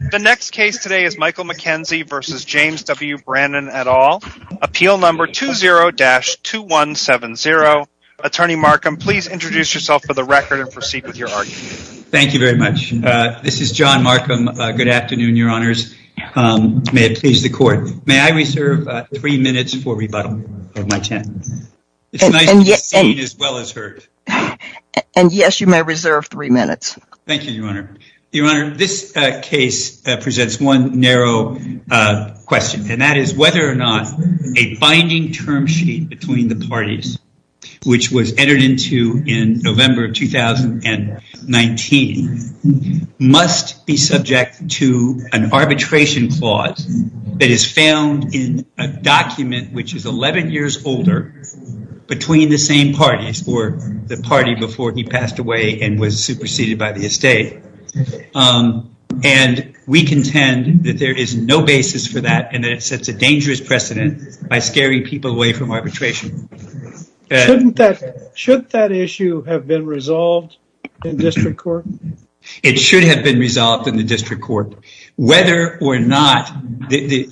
The next case today is Michael McKenzie v. James W. Brannan et al., Appeal No. 20-2170. Attorney Markham, please introduce yourself for the record and proceed with your argument. Thank you very much. This is John Markham. Good afternoon, Your Honors. May it please the Court. May I reserve three minutes for rebuttal of my tenants? It's nice to be seen as well as heard. And yes, you may reserve three minutes. Thank you, Your Honor. Your presents one narrow question, and that is whether or not a binding term sheet between the parties, which was entered into in November of 2019, must be subject to an arbitration clause that is found in a document which is 11 years older between the same parties, or the party before he passed away and was superseded by the estate. And we contend that there is no basis for that, and that it sets a dangerous precedent by scaring people away from arbitration. Should that issue have been resolved in district court? It should have been resolved in the district court, whether or not the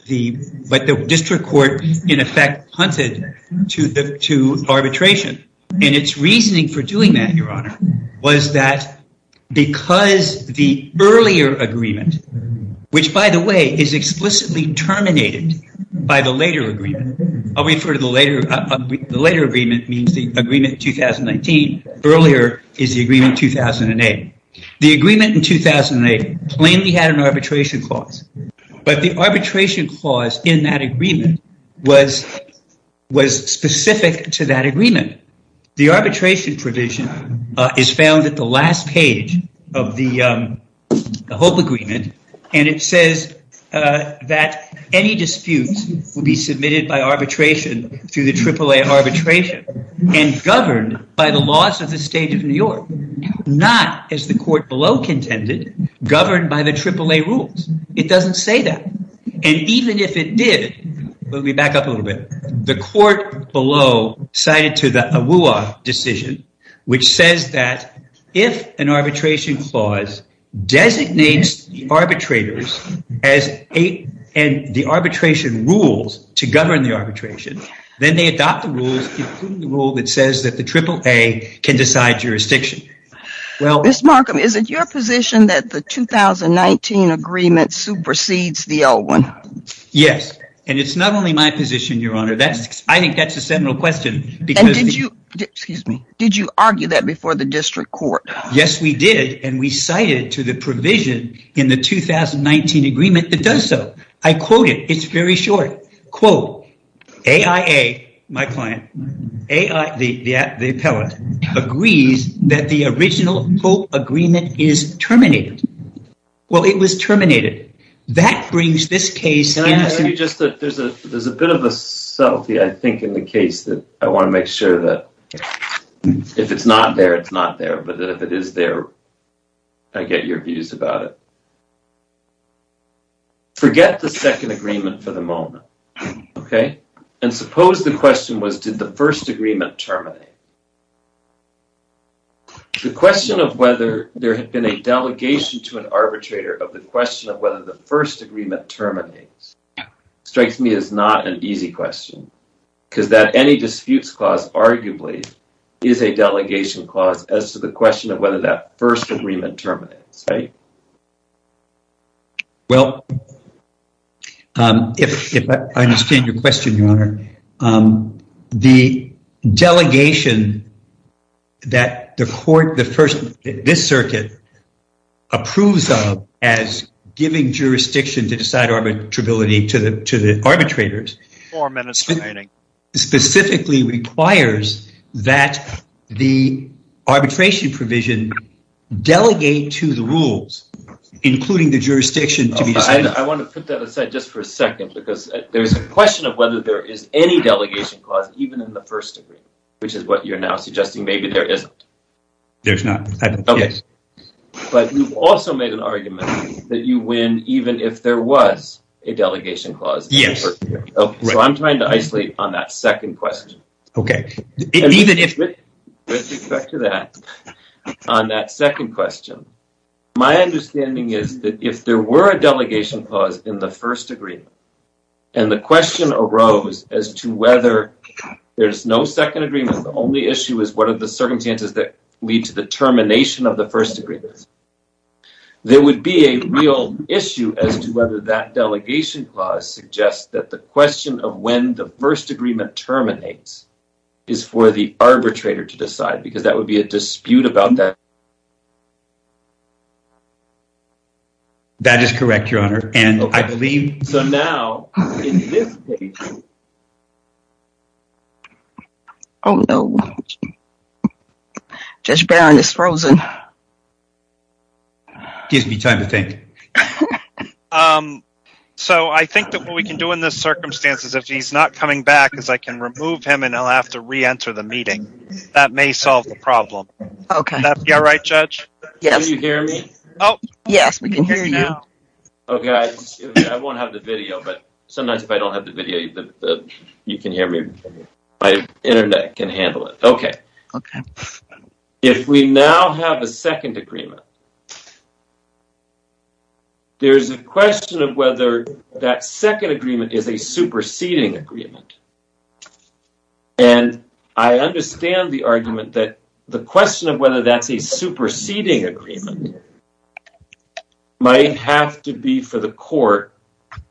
district court in effect punted to arbitration. And its reasoning for doing that, Your Honor, was that because the earlier agreement, which, by the way, is explicitly terminated by the later agreement. I'll refer to the later agreement means the agreement 2019. Earlier is the agreement 2008. The agreement in 2008 plainly had an arbitration clause, but the arbitration clause in that agreement was specific to that agreement. The arbitration provision is found at the last page of the HOPE agreement, and it says that any dispute will be submitted by arbitration through the AAA arbitration and governed by the laws of the state of New York, not, as the court below contended, governed by the AAA rules. It doesn't say that. And even if it did, let me back up a little bit. The court below cited to the AWUA decision, which says that if an arbitration clause designates the arbitrators and the arbitration rules to govern the arbitration, then they adopt the rules, including the rule that says that the AAA can decide jurisdiction. Ms. Markham, is it your position that the 2019 agreement supersedes the old one? Yes, and it's not only my position, Your Honor. I think that's a seminal question. Did you argue that before the district court? Yes, we did, and we cited to the provision in the 2019 agreement that does so. I quote it. It's very short. AAA, my client, the appellate, agrees that the original HOPE agreement is terminated. Well, it was terminated. That brings this case. There's a bit of a selfie, I think, in the case that I want to make sure that if it's not there, it's not there. But if it is there, I get your views about it. Forget the second agreement for the moment, okay? And suppose the question was, did the first to an arbitrator of the question of whether the first agreement terminates, strikes me as not an easy question, because that any disputes clause arguably is a delegation clause as to the question of whether that first agreement terminates, right? Well, if I understand your question, Your Honor, the delegation that the court, the first, this circuit approves of as giving jurisdiction to decide arbitrability to the arbitrators, specifically requires that the arbitration provision delegate to the rules, including the jurisdiction. I want to put that aside just for a second, because there's a question of whether there is any delegation clause, even in the first degree, which is what you're now suggesting maybe there isn't. There's not. Okay. But you've also made an argument that you win even if there was a delegation clause. Yes. So I'm trying to isolate on that second question. Okay. Even if... With respect to that, on that second question, my understanding is that if there were a delegation clause in the first degree, and the question arose as to whether there's no second agreement, the only issue is what are the circumstances that lead to the termination of the first agreement. There would be a real issue as to whether that delegation clause suggests that the question of when the first agreement terminates is for the arbitrator to decide, because that would be a dispute about that. That is correct, Your Honor. And I believe... So now, in this case... Oh, no. Judge Barron is frozen. Gives me time to think. So I think that what we can do in this circumstance is if he's not coming back is I can remove him and he'll have to re-enter the meeting. That may solve the problem. Okay. You're right, Judge. Can you hear me? Yes, we can hear you. Okay, I won't have the video, but sometimes if I don't have the video, you can hear me. My internet can handle it. Okay. If we now have a second agreement, there's a question of whether that second agreement is a superseding agreement. And I understand the argument that the question of whether that's a superseding agreement might have to be for the court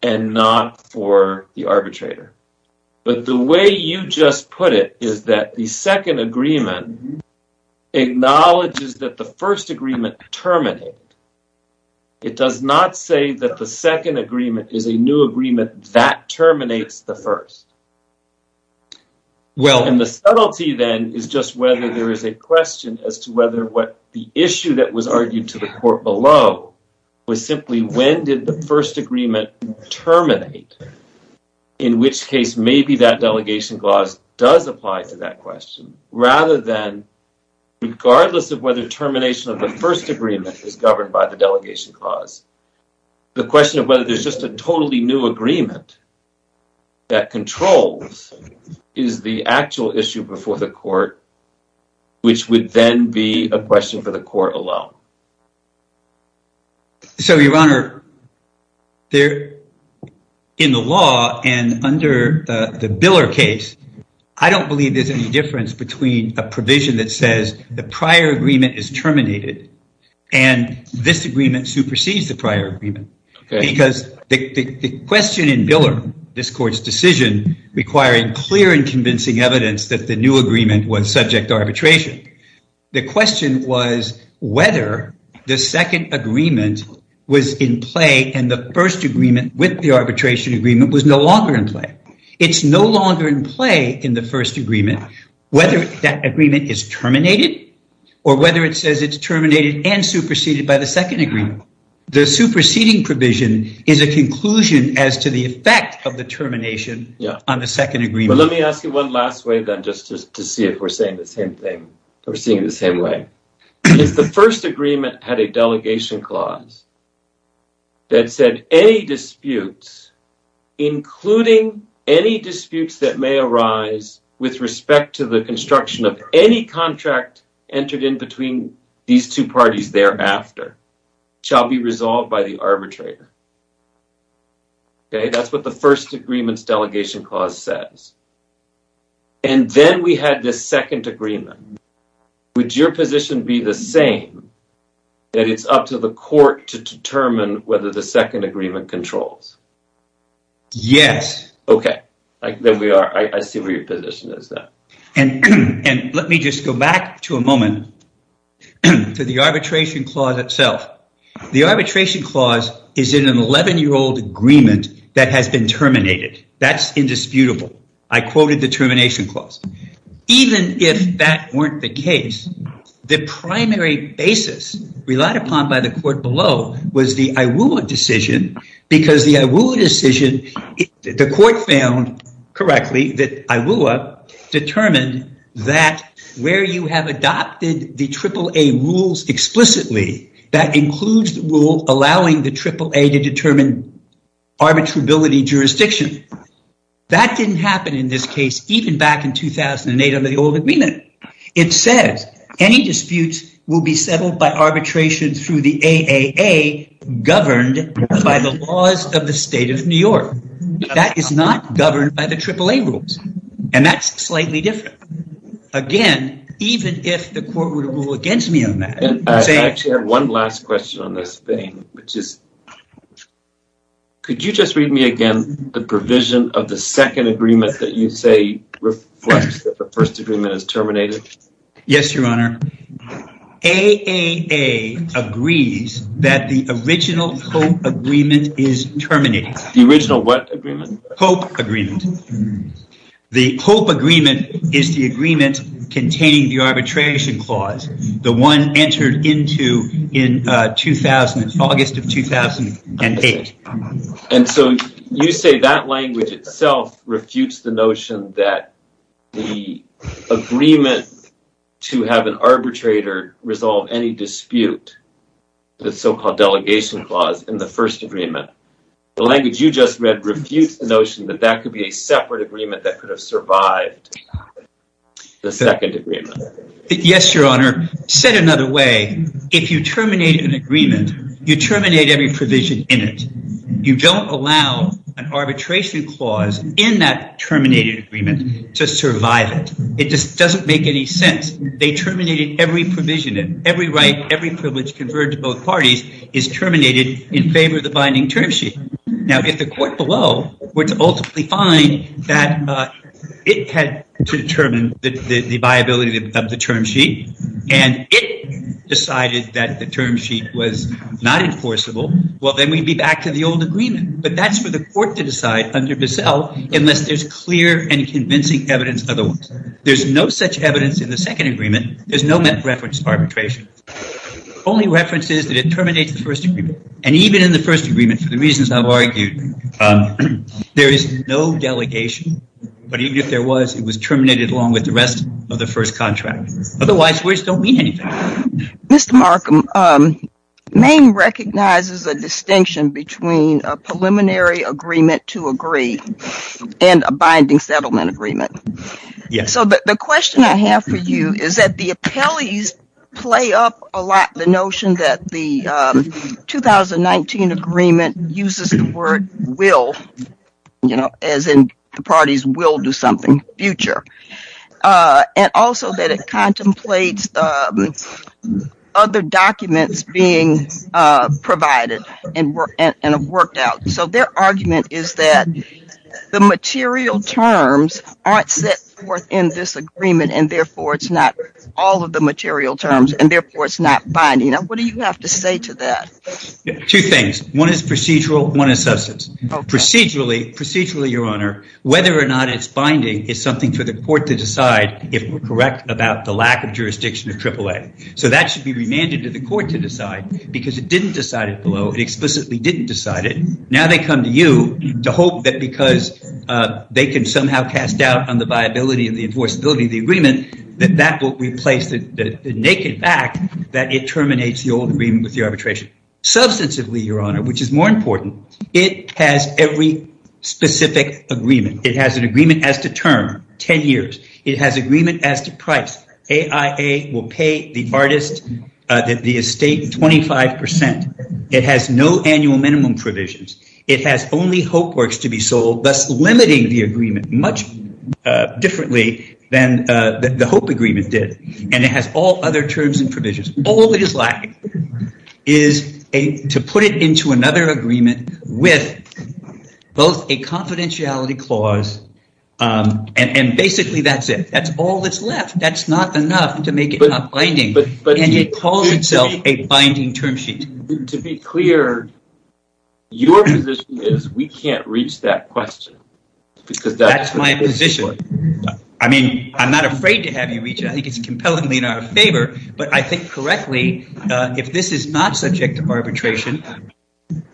and not for the arbitrator. But the way you just put it is that the second agreement acknowledges that the first agreement terminated. It does not say that the second agreement is a new agreement that terminates the first. Well, and the subtlety then is just whether there is a question as to whether what the issue that was argued to the court below was simply when did the first agreement terminate, in which case maybe that delegation clause does apply to that question, rather than regardless of whether termination of the first agreement is governed by the delegation clause. The question of whether there's just a totally new agreement that controls is the actual issue before the court, which would then be a question for the court alone. So, Your Honor, in the law and under the Biller case, I don't believe there's any difference between a provision that says the prior agreement is terminated and this agreement supersedes the first agreement. Because the question in Biller, this court's decision requiring clear and convincing evidence that the new agreement was subject to arbitration, the question was whether the second agreement was in play and the first agreement with the arbitration agreement was no longer in play. It's no longer in play in the first agreement, whether that agreement is terminated or whether it says it's terminated and superseded by the second agreement. The superseding provision is a conclusion as to the effect of the termination on the second agreement. Well, let me ask you one last way then just to see if we're saying the same thing, we're seeing the same way. If the first agreement had a delegation clause that said any disputes, including any disputes that may arise with respect to the construction of any contract entered in between these two parties thereafter shall be resolved by the arbitrator. Okay, that's what the first agreement's delegation clause says. And then we had this second agreement. Would your position be the same that it's up to the And let me just go back to a moment to the arbitration clause itself. The arbitration clause is in an 11-year-old agreement that has been terminated. That's indisputable. I quoted the termination clause. Even if that weren't the case, the primary basis relied upon by the court was the IWUA decision because the IWUA decision, the court found correctly that IWUA determined that where you have adopted the AAA rules explicitly, that includes the rule allowing the AAA to determine arbitrability jurisdiction. That didn't happen in this case even back in 2008 under the old agreement. It says any disputes will be settled by arbitration through the AAA governed by the laws of the state of New York. That is not governed by the AAA rules, and that's slightly different. Again, even if the court would rule against me on that. And I actually have one last question on this thing, which is could you just read me again the provision of the second agreement that you say reflects that the first agreement is terminated? Yes, your honor. AAA agrees that the original hope agreement is terminated. The original what agreement? Hope agreement. The hope agreement is the agreement containing the arbitration clause, the one entered into in 2000, August of 2008. And so you say that language itself refutes the notion that the agreement to have an arbitrator resolve any dispute, the so-called delegation clause in the first agreement. The language you just read refutes the notion that that could be said another way. If you terminate an agreement, you terminate every provision in it. You don't allow an arbitration clause in that terminated agreement to survive it. It just doesn't make any sense. They terminated every provision, every right, every privilege converted to both parties is terminated in favor of the binding term sheet. Now, if the court below were to ultimately find that it had to determine the viability of the term sheet, and it decided that the term sheet was not enforceable, well, then we'd be back to the old agreement. But that's for the court to decide under Bissell unless there's clear and convincing evidence otherwise. There's no such evidence in the second agreement. There's no reference to arbitration. Only reference is that it terminates the first agreement. And even in the first agreement, for the reasons I've argued, there is no delegation. But even if there was, it was terminated along with the rest of the first contract. Otherwise, words don't mean anything. Mr. Markham, Maine recognizes a distinction between a preliminary agreement to agree and a binding settlement agreement. So the question I have for you is that the appellees play up a lot the notion that the 2019 agreement uses the word will, you know, as in the parties will do something future. And also that it contemplates other documents being provided and worked out. So their argument is that the material terms aren't set forth in this agreement, and therefore, it's not all of the material terms, and therefore, it's not binding. Now, what do you have to say to that? Two things. One is procedural. One is substance. Procedurally, your honor, whether or not it's binding is something for the court to decide if we're correct about the lack of jurisdiction of AAA. So that should be remanded to the court to decide because it didn't decide it below. It explicitly didn't decide it. Now, they come to you to hope that because they can somehow cast doubt on the viability of the enforceability of the agreement, that that will replace the naked fact that it terminates the old agreement with the arbitration. Substantively, your honor, which is more important, it has every specific agreement. It has an agreement as to term, 10 years. It has agreement as to price. AAA will pay the artist, the estate, 25%. It has no annual minimum provisions. It has only hope works to be sold, thus limiting the agreement much differently than the hope agreement did, and it has all other terms and provisions. All it is lacking is to put it into another agreement with both a confidentiality clause, and basically, that's it. That's all that's left. That's not enough to make it not binding, and it calls itself a binding term sheet. To be clear, your position is we can't reach that question because that's- That's my position. I'm not afraid to have you reach it. I think it's compellingly in our favor, but I think correctly, if this is not subject to arbitration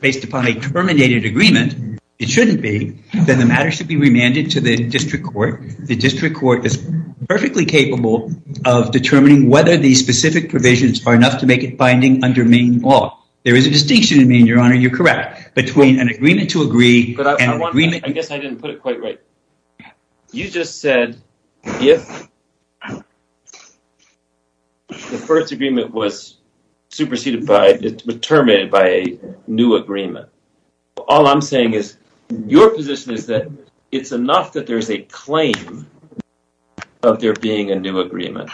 based upon a terminated agreement, it shouldn't be, then the matter should be remanded to the district court. The district court is perfectly capable of determining whether these specific provisions are enough to make it under Maine law. There is a distinction in Maine, your honor, you're correct, between an agreement to agree and agreement- I guess I didn't put it quite right. You just said if the first agreement was superseded by, terminated by a new agreement. All I'm saying is your position is that it's enough that there's a claim of there being a new agreement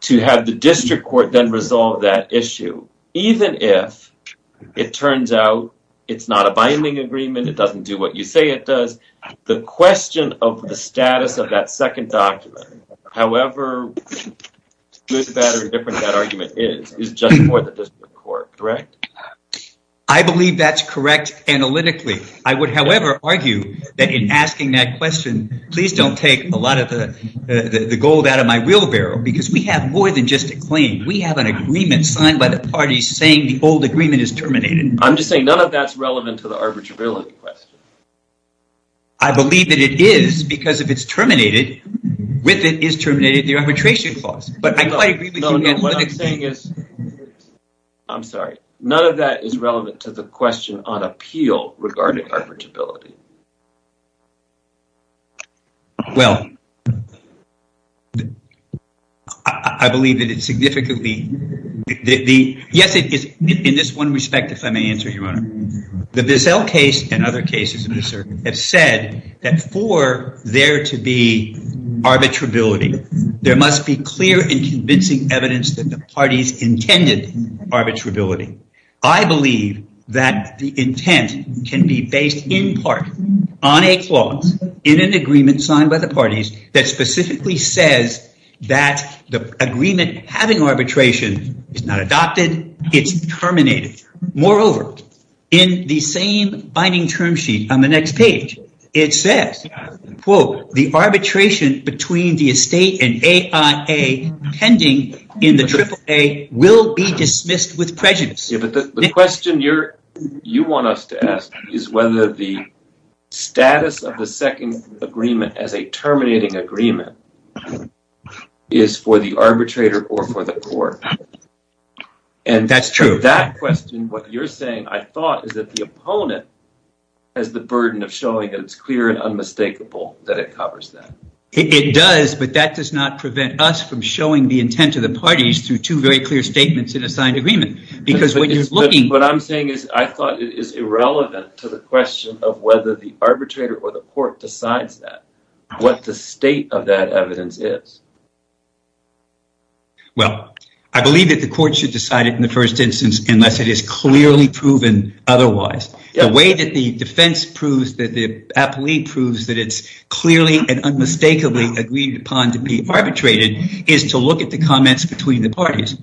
to have the district court then resolve that issue, even if it turns out it's not a binding agreement, it doesn't do what you say it does. The question of the status of that second document, however good, bad, or indifferent that argument is, is just for the district court, correct? I believe that's correct analytically. I would, however, argue that in asking that question, please don't take a lot of the gold out of my wheelbarrow, because we have more than just a claim. We have an agreement signed by the parties saying the old agreement is terminated. I'm just saying none of that's relevant to the arbitrability question. I believe that it is, because if it's terminated, with it is terminated the arbitration clause, but I quite agree with you. I'm sorry, none of that is relevant to the question on appeal regarding arbitrability. Well, I believe that it's significantly, yes, in this one respect, if I may answer, the Bissell case and other cases have said that for there to be arbitrability, there must be clear and convincing evidence that the parties intended arbitrability. I believe that the intent can be based in part on a clause in an agreement signed by the parties that specifically says that the agreement having arbitration is not adopted, it's terminated. Moreover, in the same binding term sheet on the next page, it says, quote, the arbitration between the estate and AIA pending in the AAA will be dismissed with prejudice. Yeah, but the question you want us to ask is whether the status of the second agreement as a terminating agreement is for the arbitrator or for the court. That's true. That question, what you're saying, I thought, is that the opponent has the burden of showing that it's clear and unmistakable that it covers that. It does, but that does not prevent us from showing the intent of the parties through two very clear statements in a signed agreement because when you're looking... What I'm saying is I thought it is irrelevant to the question of whether the arbitrator or the court decides that, what the state of that evidence is. Well, I believe that the court should decide it in the first instance, unless it is clearly proven otherwise. The way that the defense proves that the agreed upon to be arbitrated is to look at the comments between the parties.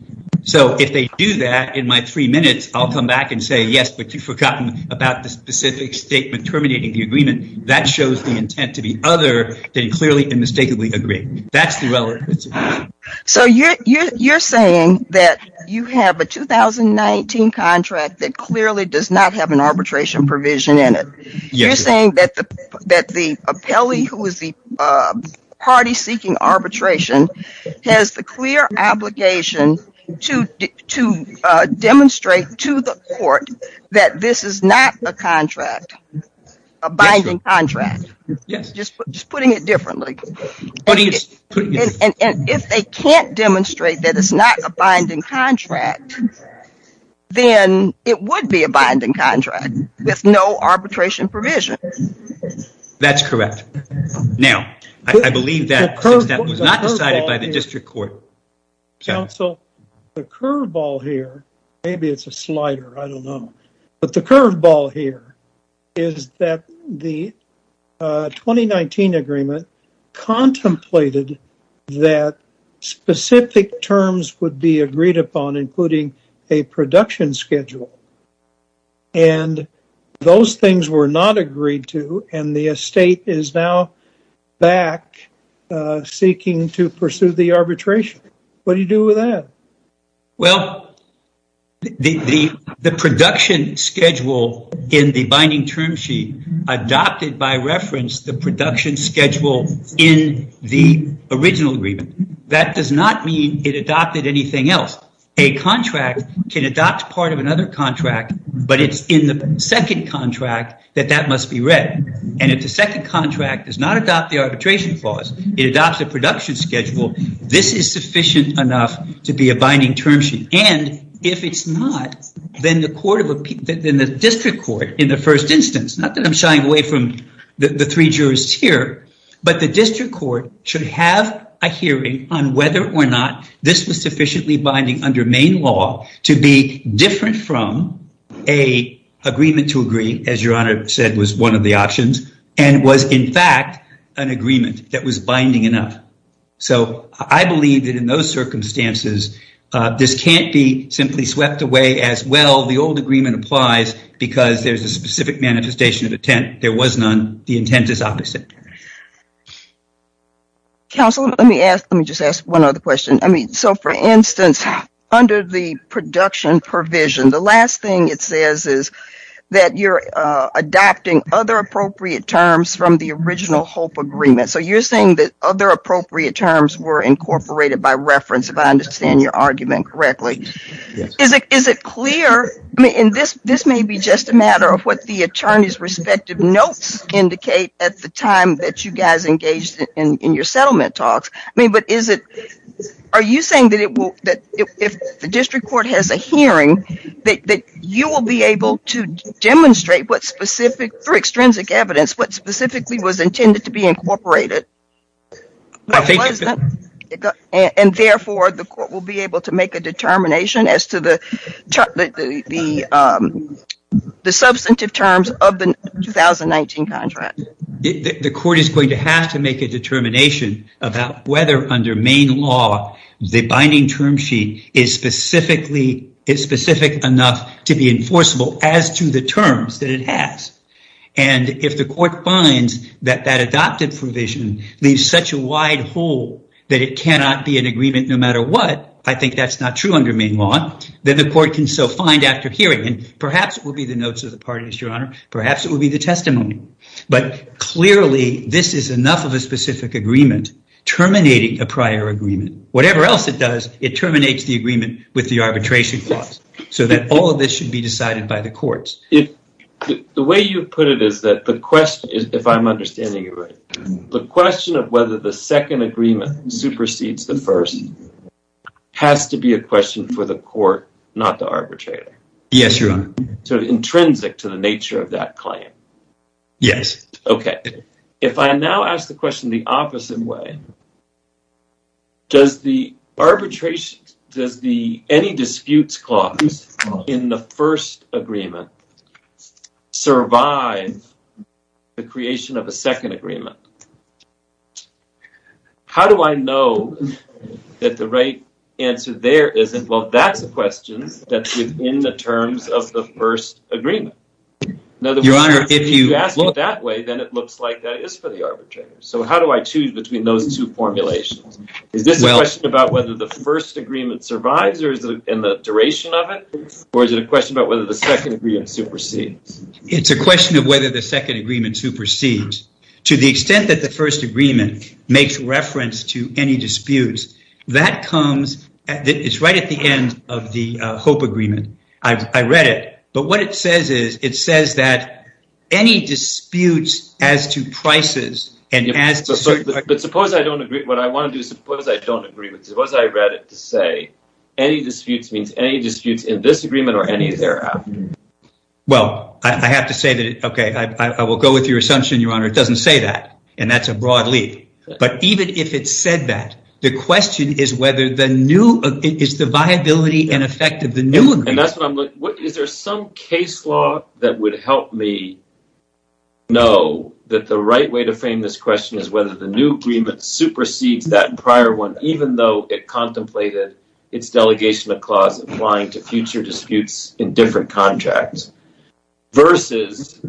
If they do that in my three minutes, I'll come back and say, yes, but you've forgotten about the specific statement terminating the agreement. That shows the intent to be other than clearly and mistakenly agree. That's the relevant principle. You're saying that you have a 2019 contract that clearly does not have an arbitration provision in it. You're saying that the appellee who is the party seeking arbitration has the clear obligation to demonstrate to the court that this is not a contract, a binding contract, just putting it differently. If they can't demonstrate that it's not a binding contract, then it would be a binding contract with no arbitration provision. That's correct. Now, I believe that was not decided by the district court. Counsel, the curve ball here, maybe it's a slider, I don't know. But the curve ball here is that the 2019 agreement contemplated that specific terms would be agreed upon, including a production schedule. And those things were not agreed to, and the estate is now back seeking to pursue the arbitration. What do you do with that? Well, the production schedule in the binding term sheet adopted by reference the production schedule in the original agreement. That does not mean it adopted anything else. A contract can adopt part of another contract, but it's in the second contract that that must be read. And if the second contract does not adopt the arbitration clause, it adopts a production schedule, this is sufficient enough to be a binding term sheet. And if it's not, then the district court in the first instance, not that I'm shying away from the three jurists here, but the district court should have a hearing on whether or not this was sufficiently binding under Maine law to be different from a agreement to agree, as Your Honor said was one of the options, and was in fact an agreement that was binding enough. So I believe that in those circumstances, this can't be simply swept away as, well, the old agreement applies because there's a specific manifestation of intent. There was none. The intent is opposite. Counsel, let me ask, let me just ask one other question. I mean, so for instance, under the production provision, the last thing it says is that you're adopting other appropriate terms from the original hope agreement. So you're saying that other appropriate terms were incorporated by reference, if I understand your argument correctly. Is it clear, I mean, this may be just a matter of what the attorney's respective notes indicate at the time that you guys engaged in your settlement talks. I mean, but is it, are you saying that it will, that if the district court has a hearing, that you will be able to demonstrate what specific, for extrinsic evidence, what specifically was intended to be incorporated? And therefore, the court will be able to make a determination as to the substantive terms of the 2019 contract. The court is going to have to make a determination about whether under main law, the binding term sheet is specifically, is specific enough to be enforceable as to the terms that it has. And if the court finds that that adopted provision leaves such a wide hole, that it cannot be an agreement no matter what, I think that's not true under main law, then the court can so find after hearing. And perhaps it will be the notes of the parties, your honor. Perhaps it will be the testimony. But clearly, this is enough of a specific agreement terminating a prior agreement. Whatever else it does, it terminates the agreement with the arbitration clause. So that all of this should be decided by the courts. If the way you put it is that the question is, if I'm understanding it right, the question of whether the second agreement supersedes the first has to be a question for the court, not the arbitrator. Yes, your honor. So intrinsic to the nature of that claim. Yes. Okay. If I now ask the question the opposite way, does the arbitration, does the any disputes clause in the first agreement survive the creation of a second agreement? How do I know that the right answer there isn't? Well, that's a question that's within the terms of the first agreement. In other words, if you ask it that way, then it looks like that is for the arbitrator. So how do I choose between those two formulations? Is this a question about whether the first agreement survives or is it in the duration of it? Or is it a question about whether the second agreement supersedes? It's a question of whether the second agreement supersedes. To the extent that the first agreement makes reference to any disputes, it's right at the end of the hope agreement. I read it, but what it says is, it says that any disputes as to prices and as to certain... But suppose I don't agree. What I want to do is suppose I don't agree with it. Suppose I read it to say, any disputes means any disputes in this agreement or any thereafter. Well, I have to say that, okay, I will go with your assumption, Your Honor. It doesn't say that. And that's a broad leap. But even if it said that, the question is whether the new, is the viability and effect of the new agreement... And that's what I'm looking for. Is there some case law that would help me know that the right way to frame this question is whether the new agreement supersedes that prior one, even though it contemplated its delegation of clause applying to future disputes in different contracts. Versus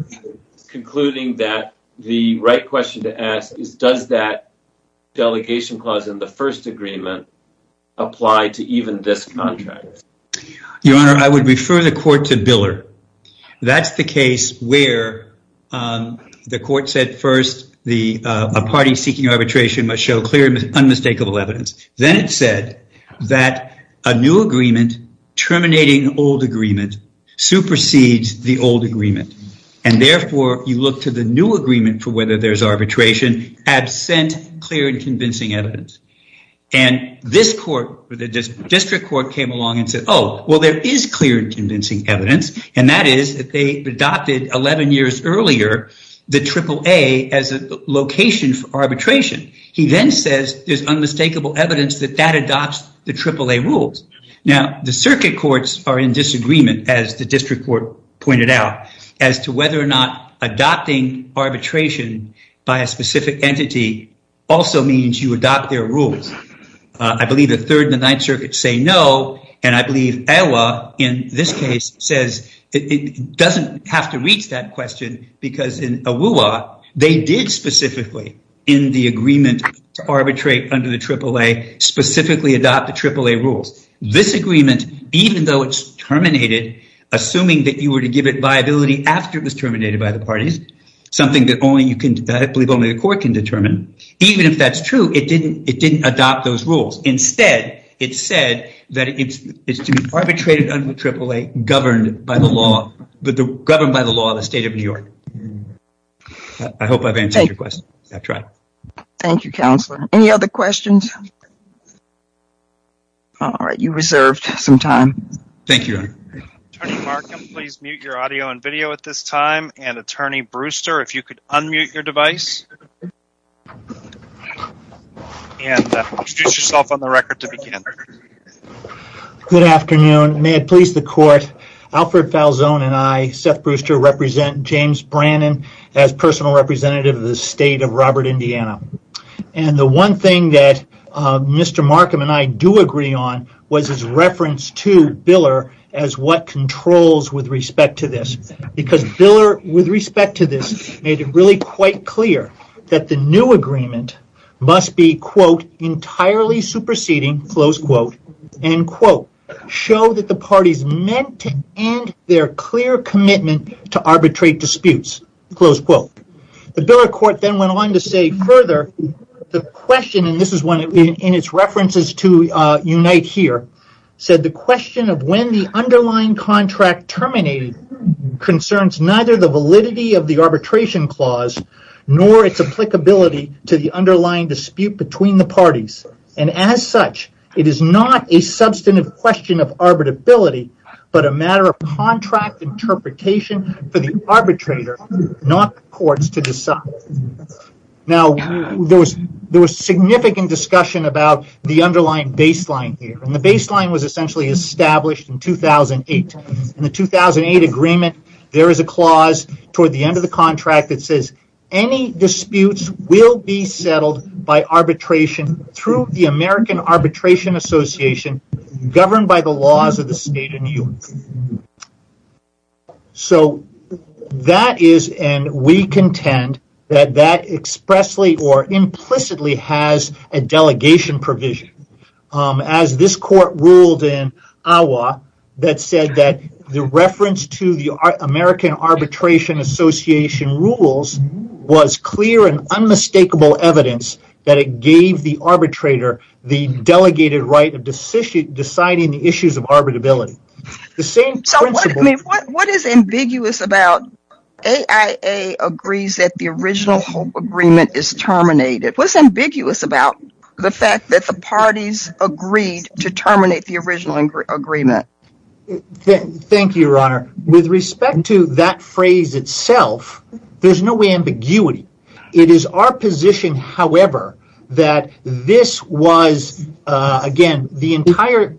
concluding that the right question to ask is, does that delegation clause in the first agreement apply to even this contract? Your Honor, I would refer the court to Biller. That's the case where the court said, first, a party seeking arbitration must show clear, unmistakable evidence. Then it said that a new agreement, terminating old agreement, supersedes the old agreement. And therefore, you look to the new agreement for whether there's arbitration, absent clear and convincing evidence. And this court, the district court came along and said, well, there is clear and convincing evidence. And that is that they adopted 11 years earlier, the AAA as a location for arbitration. He then says there's unmistakable evidence that that adopts the AAA rules. Now, the circuit courts are in disagreement, as the district court pointed out, as to whether or not adopting arbitration by a specific entity also means you adopt their rules. I believe the Third and the Ninth Circuit say no. And I believe Iowa, in this case, says it doesn't have to reach that question because in AWUA, they did specifically, in the agreement, arbitrate under the AAA, specifically adopt the AAA rules. This agreement, even though it's terminated, assuming that you were to give it viability after it was terminated by the parties, something that only you can, I believe, adopt those rules. Instead, it said that it's to be arbitrated under the AAA governed by the law, governed by the law of the state of New York. I hope I've answered your question. That's right. Thank you, counselor. Any other questions? All right, you reserved some time. Thank you, Your Honor. Attorney Markham, please mute your audio and video at this time. Good afternoon. May it please the court, Alfred Falzon and I, Seth Brewster, represent James Brannon as personal representative of the state of Robert, Indiana. And the one thing that Mr. Markham and I do agree on was his reference to Biller as what controls with respect to this. Because Biller, with respect to this, made it really quite clear that the new agreement must be, quote, entirely superseding, close quote, end quote, show that the parties meant to end their clear commitment to arbitrate disputes, close quote. The Biller court then went on to say further, the question, and this is one in its references to Unite Here, said the question of when the underlying contract terminated concerns neither the validity of the arbitration clause nor its applicability to the underlying dispute between the parties. And as such, it is not a substantive question of arbitrability, but a matter of contract interpretation for the arbitrator, not the courts to decide. Now, there was significant discussion about the underlying baseline here, and the baseline was essentially established in 2008. In the 2008 agreement, there is a clause toward the end of the contract that says any disputes will be settled by arbitration through the American Arbitration Association governed by the laws of the state. So, that is, and we contend that that expressly or implicitly has a delegation provision. As this court ruled in AWA that said that the reference to the American Arbitration Association rules was clear and unmistakable evidence that it gave the arbitrator the delegated right of deciding the issues of arbitrability. So, what is ambiguous about AIA agrees that the original hope agreement is terminated? What is ambiguous about the fact that the parties agreed to terminate the original agreement? Thank you, Your Honor. With respect to that phrase itself, there is no ambiguity. It is our position, however, that this was, again, the entire,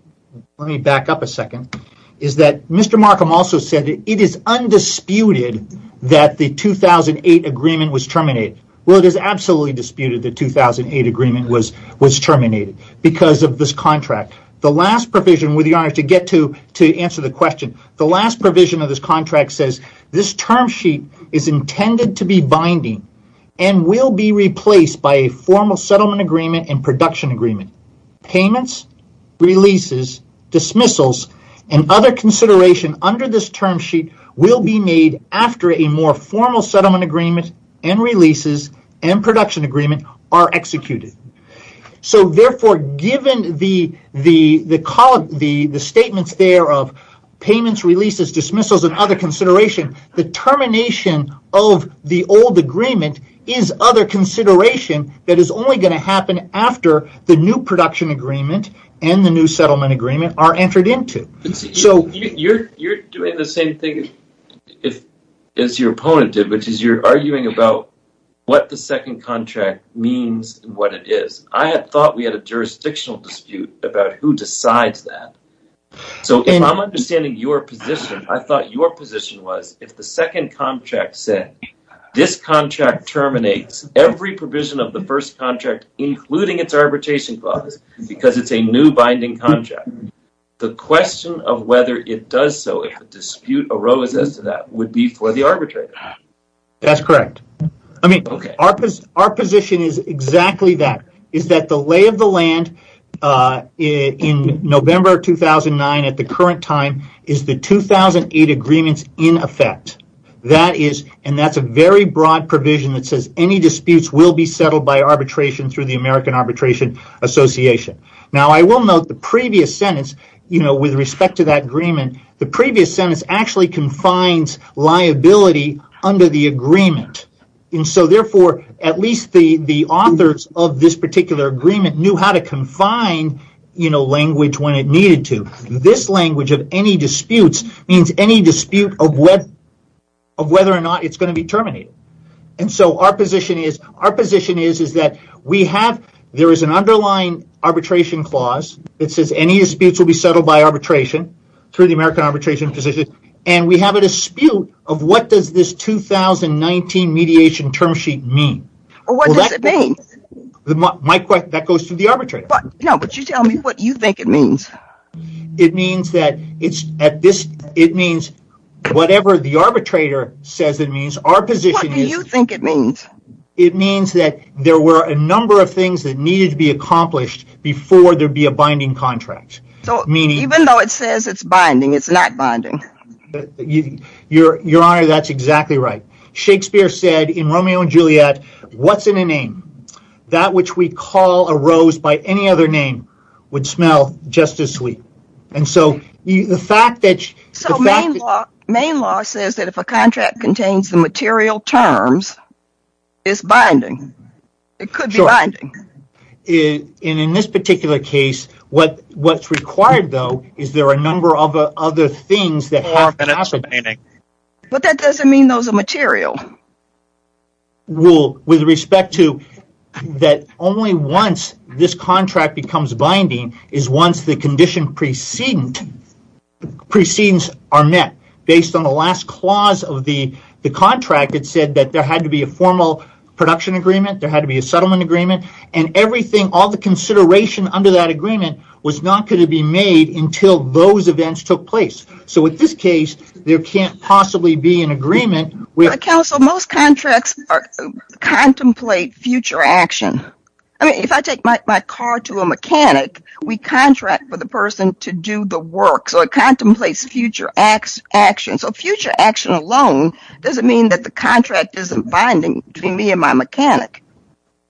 let me back up a second, is that Mr. Markham also said that it is undisputed that the 2008 agreement was terminated. Well, it is absolutely disputed that the 2008 agreement was terminated because of this contract. The last provision, Your Honor, to get to answer the question, the last provision of this contract says this term sheet is intended to be binding and will be replaced by a formal settlement agreement and production agreement. Payments, releases, dismissals, and other consideration under this term sheet will be made after a more formal settlement agreement and releases and production agreement are executed. So, therefore, given the statements there of payments, releases, dismissals, and other consideration, the termination of the old agreement is other consideration that is only going to happen after the new production agreement and the new settlement agreement are entered into. You are doing the same thing as your opponent did, which is you are arguing about what the I had thought we had a jurisdictional dispute about who decides that. So, if I am understanding your position, I thought your position was if the second contract said this contract terminates every provision of the first contract including its arbitration clause because it is a new binding contract, the question of whether it does so if a dispute arose as to that would be for the arbitrator. That is correct. I mean, our position is exactly that is that the lay of the land in November 2009 at the current time is the 2008 agreements in effect and that is a very broad provision that says any disputes will be settled by arbitration through the American Arbitration Association. Now, I will note the previous sentence with respect to that agreement, the previous sentence actually confines liability under the agreement and so, therefore, at least the authors of this particular agreement knew how to confine language when it needed to. This language of any disputes means any dispute of whether or not it is going to be terminated. So, our position is that there is an underlying arbitration clause that says any disputes will be settled by arbitration through the American Arbitration Association and we have a dispute of what does this 2019 mediation term sheet mean. What does it mean? My question, that goes to the arbitrator. No, but you tell me what you think it means. It means that it is at this, it means whatever the arbitrator says it means, our position is. What do you think it means? It means that there were a number of things that needed to be accomplished before there would be a binding contract. Even though it says it is binding, it is not binding. Your Honor, that is exactly right. Shakespeare said in Romeo and Juliet, what is in a name? That which we call a rose by any other name would smell just as sweet. Main law says that if a contract contains the material terms, it is binding. It could be binding. In this particular case, what is required though is there are a number of other things. But that does not mean those are material. Well, with respect to that only once this contract becomes binding is once the condition precedence are met. Based on the last clause of the contract, it said that there had to be a formal production agreement, there had to be a settlement agreement, and everything, all the consideration under that agreement was not going to be made until those events took place. In this case, there can't possibly be an agreement. Most contracts contemplate future action. If I take my car to a mechanic, we contract for the person to do the work, so it contemplates future action. Future action alone does not mean that the contract is not binding between me and my mechanic.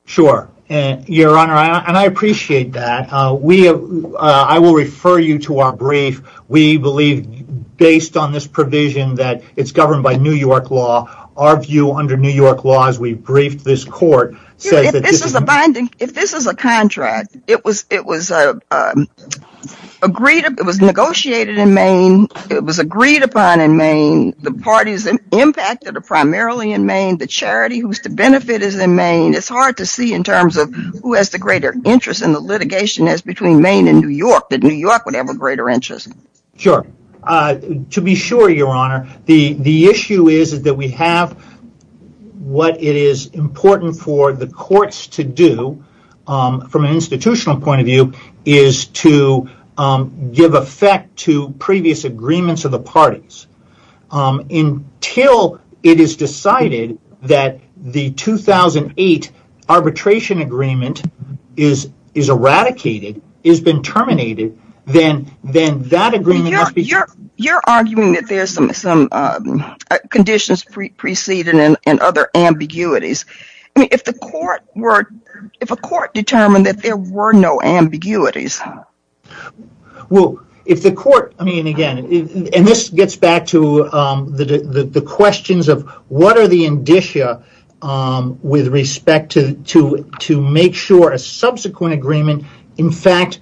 Sure. Your Honor, I appreciate that. I will refer you to our brief. We believe based on this provision that it is governed by New York law, our view under New York law as we briefed this court says that this is binding. If this is a contract, it was negotiated in Maine, it was agreed upon in Maine, the parties impacted are primarily in Maine, the charity whose benefit is in Maine, it's hard to see in terms of who has the greater interest in the litigation as between Maine and New York. Did New York have a greater interest? Sure. To be sure, Your Honor, the issue is that we have what it is important for the courts to do from an institutional point of view is to give effect to previous agreements of the parties. Until it is decided that the 2008 arbitration agreement is eradicated, has been terminated, then that agreement... You're arguing that there are some conditions preceded and other ambiguities. If a court determined that there were no ambiguities... And this gets back to the questions of what are the indicia with respect to make sure a subsequent agreement in fact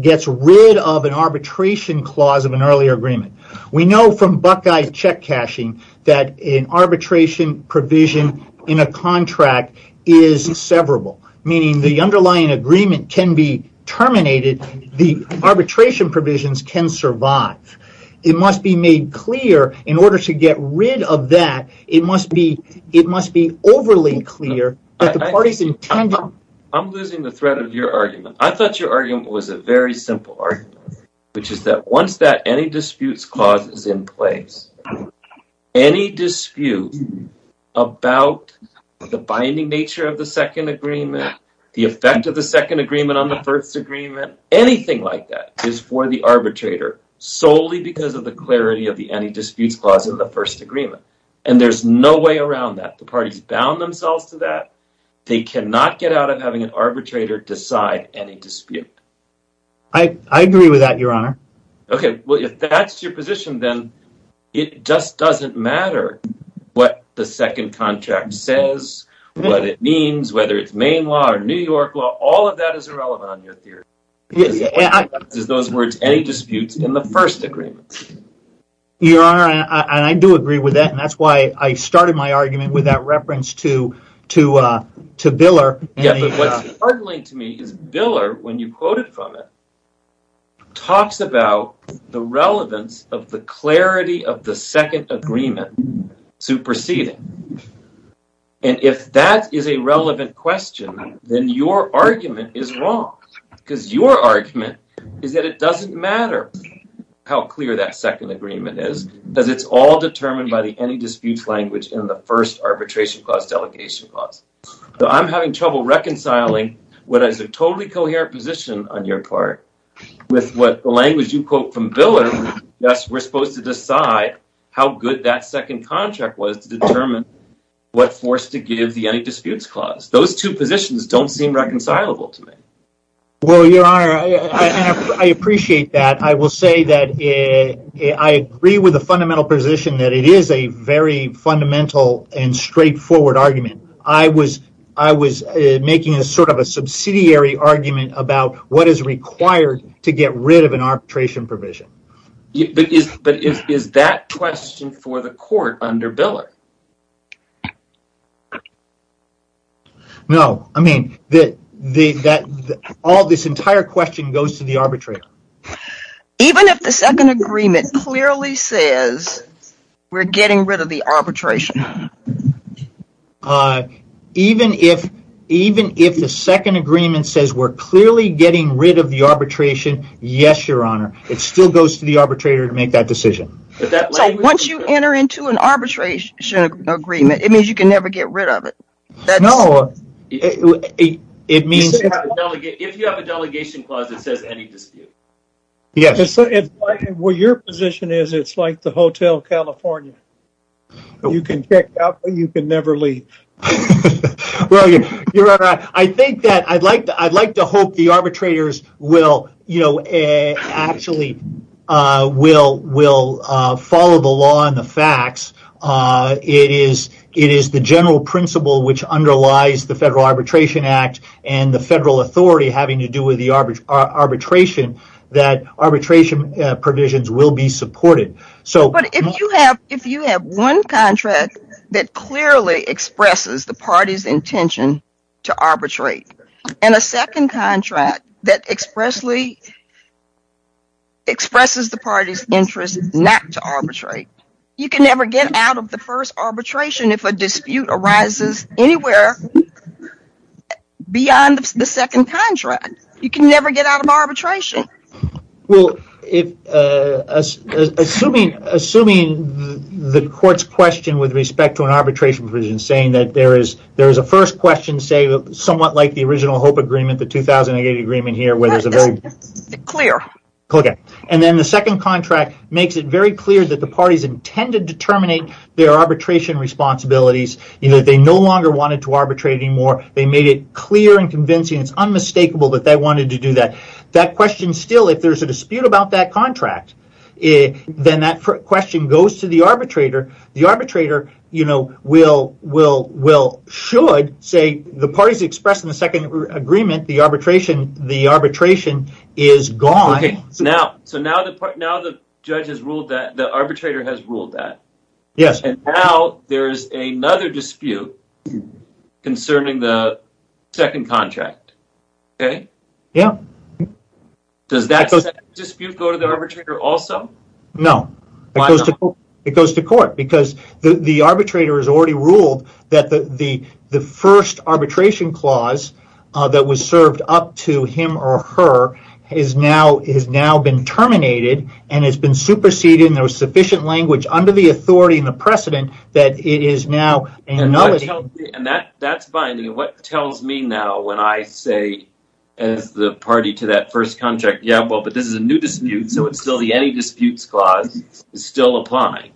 gets rid of an arbitration clause of an earlier agreement. We know from Buckeye check cashing that an arbitration provision in a contract is severable, meaning the underlying agreement can be terminated, the arbitration provisions can survive. It must be made clear in order to get rid of that, it must be overly clear. I'm losing the thread of your argument. I thought your argument was a very simple argument, which is that once that any disputes clause is in place, any dispute about the binding nature of the second agreement, the effect of the second agreement on the first agreement, anything like that is for the arbitrator solely because of the clarity of the any disputes clause of the first agreement. And there's no way around that. The parties bound themselves to that. They cannot get out of having an arbitrator decide any dispute. I agree with that, your honor. If that's your position, then it just doesn't matter what the second contract says, what it means, whether it's Maine law or New York law, all of that is irrelevant on your theory. Any disputes in the first agreement. Your honor, I do agree with that. That's why I started my argument with that reference to Biller when you quoted from it, talks about the relevance of the clarity of the second agreement superseding. And if that is a relevant question, then your argument is wrong because your argument is that it doesn't matter how clear that second agreement is because it's all determined by the any disputes language in the first arbitration clause, delegation clause. I'm having trouble reconciling what is a totally coherent position on your part with what the language you quote from Biller. Yes, we're supposed to decide how good that second contract was to determine what forced to give the any disputes clause. Those two positions don't seem reconcilable to me. Well, your honor, I appreciate that. I will say that I agree with the fundamental position that it is a very fundamental and straightforward argument. I was making sort of a subsidiary argument about what is required to get rid of an arbitration provision. But is that question for the court under Biller? No. I mean, this entire question goes to the arbitrator. Even if the second agreement clearly says we're getting rid of the arbitration? Even if the second agreement says we're clearly getting rid of the arbitration? Yes, your honor. It still goes to the arbitrator to make that decision. Once you enter into an arbitration agreement, it means you can never get rid of it. If you have a delegation clause that says any dispute. Well, your position is it's like the Hotel California. You can check out, but you can never get rid of it. I'd like to hope the arbitrators will follow the law and the facts. It is the general principle which underlies the Federal Arbitration Act and the federal authority having to do with the arbitration that arbitration provisions will be supported. But if you have one contract that clearly expresses the party's intention to arbitrate, and a second contract that expressly expresses the party's interest not to arbitrate, you can never get out of the first arbitration if a dispute arises anywhere beyond the second contract. You can never get out of arbitration. Well, assuming the court's question with respect to an arbitration provision saying that there is a first question somewhat like the original HOPE agreement, the 2008 agreement here, and then the second contract makes it very clear that the parties intended to terminate their arbitration responsibilities. They no longer wanted to arbitrate anymore. They made it clear and convincing. It's unmistakable that they wanted to do that. That question still, if there's a dispute about that contract, then that question goes to the arbitrator. The arbitrator should say the parties expressed in the second agreement, the arbitration is gone. So now the judge has ruled that, the arbitrator has ruled that, and now there is another dispute concerning the second contract. Does that dispute go to the arbitrator also? No. It goes to court because the arbitrator has already ruled that the first arbitration clause that was served up to him or her has now been terminated and has been superseded and there was sufficient language under the authority and the precedent that it is now and that's binding. What tells me now when I say as the party to that first contract, yeah, well, but this is a new dispute, so it's still the Any Disputes Clause, it's still applying.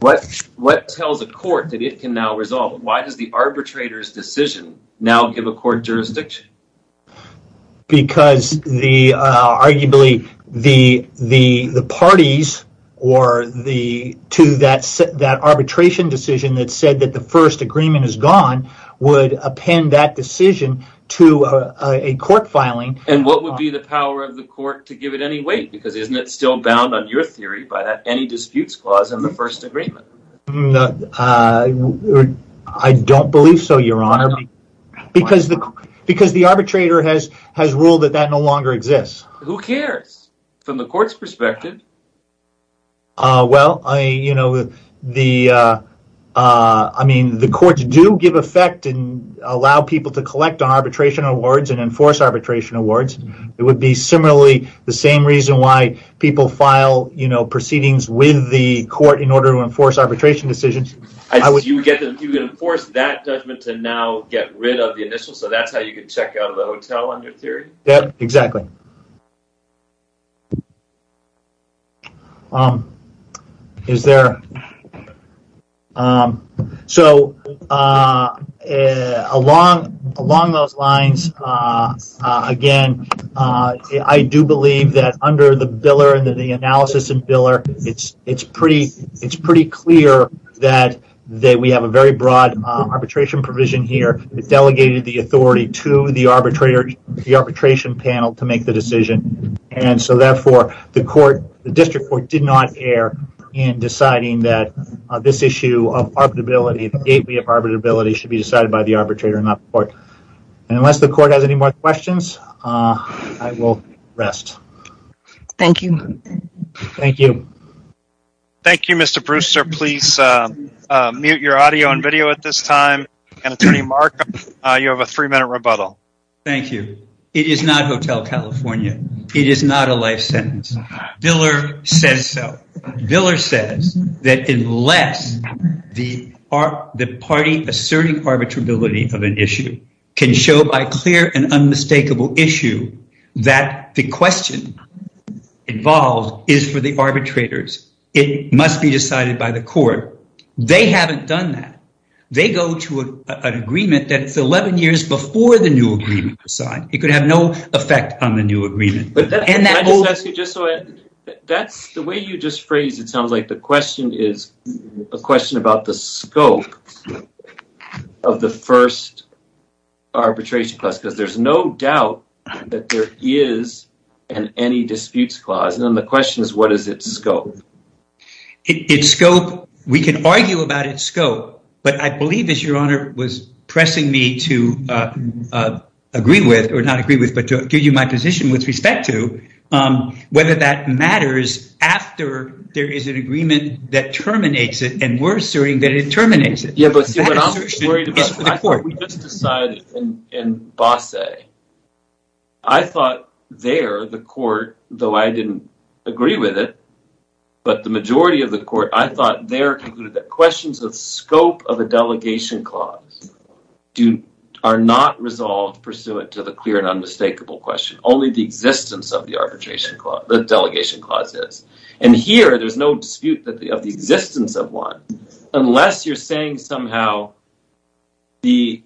What tells a court that it can now resolve it? Why does the arbitrator's decision now give a court jurisdiction? Arguably, the parties to that arbitration that said that the first agreement is gone would append that decision to a court filing. And what would be the power of the court to give it any weight? Isn't it still bound on your theory by that Any Disputes Clause and the first agreement? I don't believe so, Your Honor, because the arbitrator has ruled that that no longer exists. Who cares from the court's perspective? Well, I mean, the courts do give effect and allow people to collect arbitration awards and enforce arbitration awards. It would be similarly the same reason why people file proceedings with the court in order to enforce arbitration decisions. So you would enforce that judgment to now get rid of the initials, so that's how you could check out of the hotel on your theory? Exactly. So along those lines, again, I do believe that under the biller and the analysis and biller, it's pretty clear that we have a very broad arbitration provision here. It's delegated the authority to the arbitrator, the arbitration panel to make the decision. And so therefore, the court, the district court did not err in deciding that this issue of arbitrability, the gateway of arbitrability should be decided by the arbitrator and not the court. And unless the court has any more questions, I will rest. Thank you. Thank you. Thank you, Mr. Brewster. Please mute your audio and video at this time. And Attorney Mark, you have a three minute rebuttal. Thank you. It is not Hotel California. It is not a life sentence. Biller says so. Biller says that unless the party asserting arbitrability of an issue can show by clear and unmistakable issue that the question involved is for the arbitrators, it must be decided by the court. They haven't done that. They go to an agreement that's 11 years before the new agreement was signed. It could have no effect on the new agreement. That's the way you just phrased it sounds like the question is a question about the scope of the first arbitration class, because there's no doubt that there is an any disputes clause. And the question is, what is its scope? It's scope. We can argue about its scope. But I believe, as your honor was pressing me to agree with or not agree with, but give you my position with respect to whether that matters after there is an agreement that terminates it. And we're asserting that it terminates it. Yeah, but what I'm worried about, we just decided in agree with it. But the majority of the court, I thought their concluded that questions of scope of a delegation clause do are not resolved pursuant to the clear and unmistakable question, only the existence of the arbitration clause, the delegation clauses. And here there's no dispute that the existence of one, unless you're saying somehow the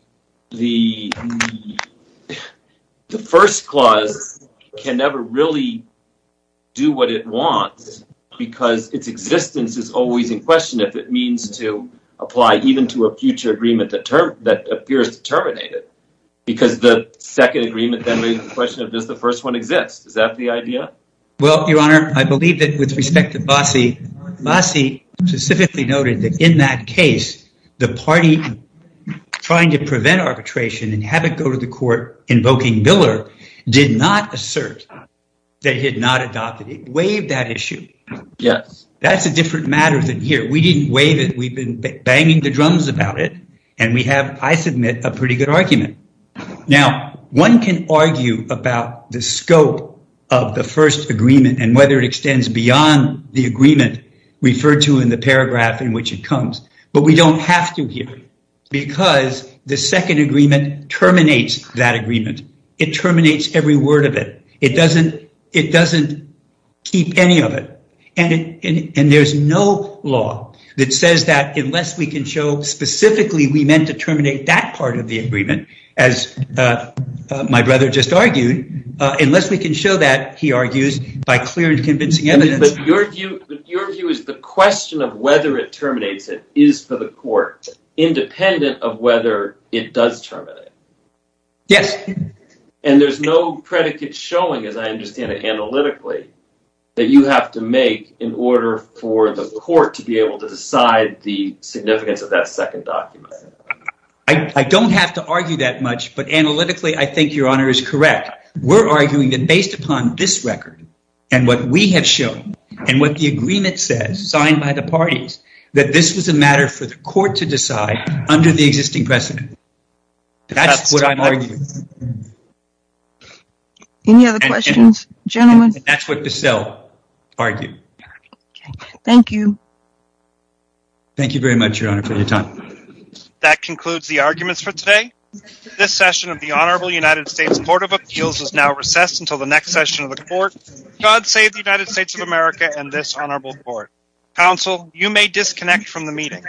the the first clause can never really do what it wants, because its existence is always in question if it means to apply even to a future agreement that appears to terminate it. Because the second agreement then raises the question of does the first one exist? Is that the idea? Well, your honor, I believe that with respect to Bossie, Bossie specifically noted that in that case, the party trying to prevent arbitration and waive that issue. Yes, that's a different matter than here. We didn't waive it. We've been banging the drums about it. And we have, I submit a pretty good argument. Now, one can argue about the scope of the first agreement and whether it extends beyond the agreement referred to in the paragraph in which it comes. But we don't have to hear because the second agreement terminates that keep any of it. And there's no law that says that unless we can show specifically we meant to terminate that part of the agreement, as my brother just argued, unless we can show that, he argues, by clear and convincing evidence. But your view is the question of whether it terminates it is for the court, independent of whether it does terminate. Yes. And there's no analytically that you have to make in order for the court to be able to decide the significance of that second document. I don't have to argue that much, but analytically, I think your honor is correct. We're arguing that based upon this record and what we have shown and what the agreement says signed by the parties, that this was a matter for the court to decide under the existing precedent. That's what I'm arguing. Any other questions, gentlemen? That's what Bissell argued. Thank you. Thank you very much, your honor, for your time. That concludes the arguments for today. This session of the Honorable United States Court of Appeals is now recessed until the next session of the court. God save the United States of America and this honorable court. Counsel, you may disconnect from the meeting.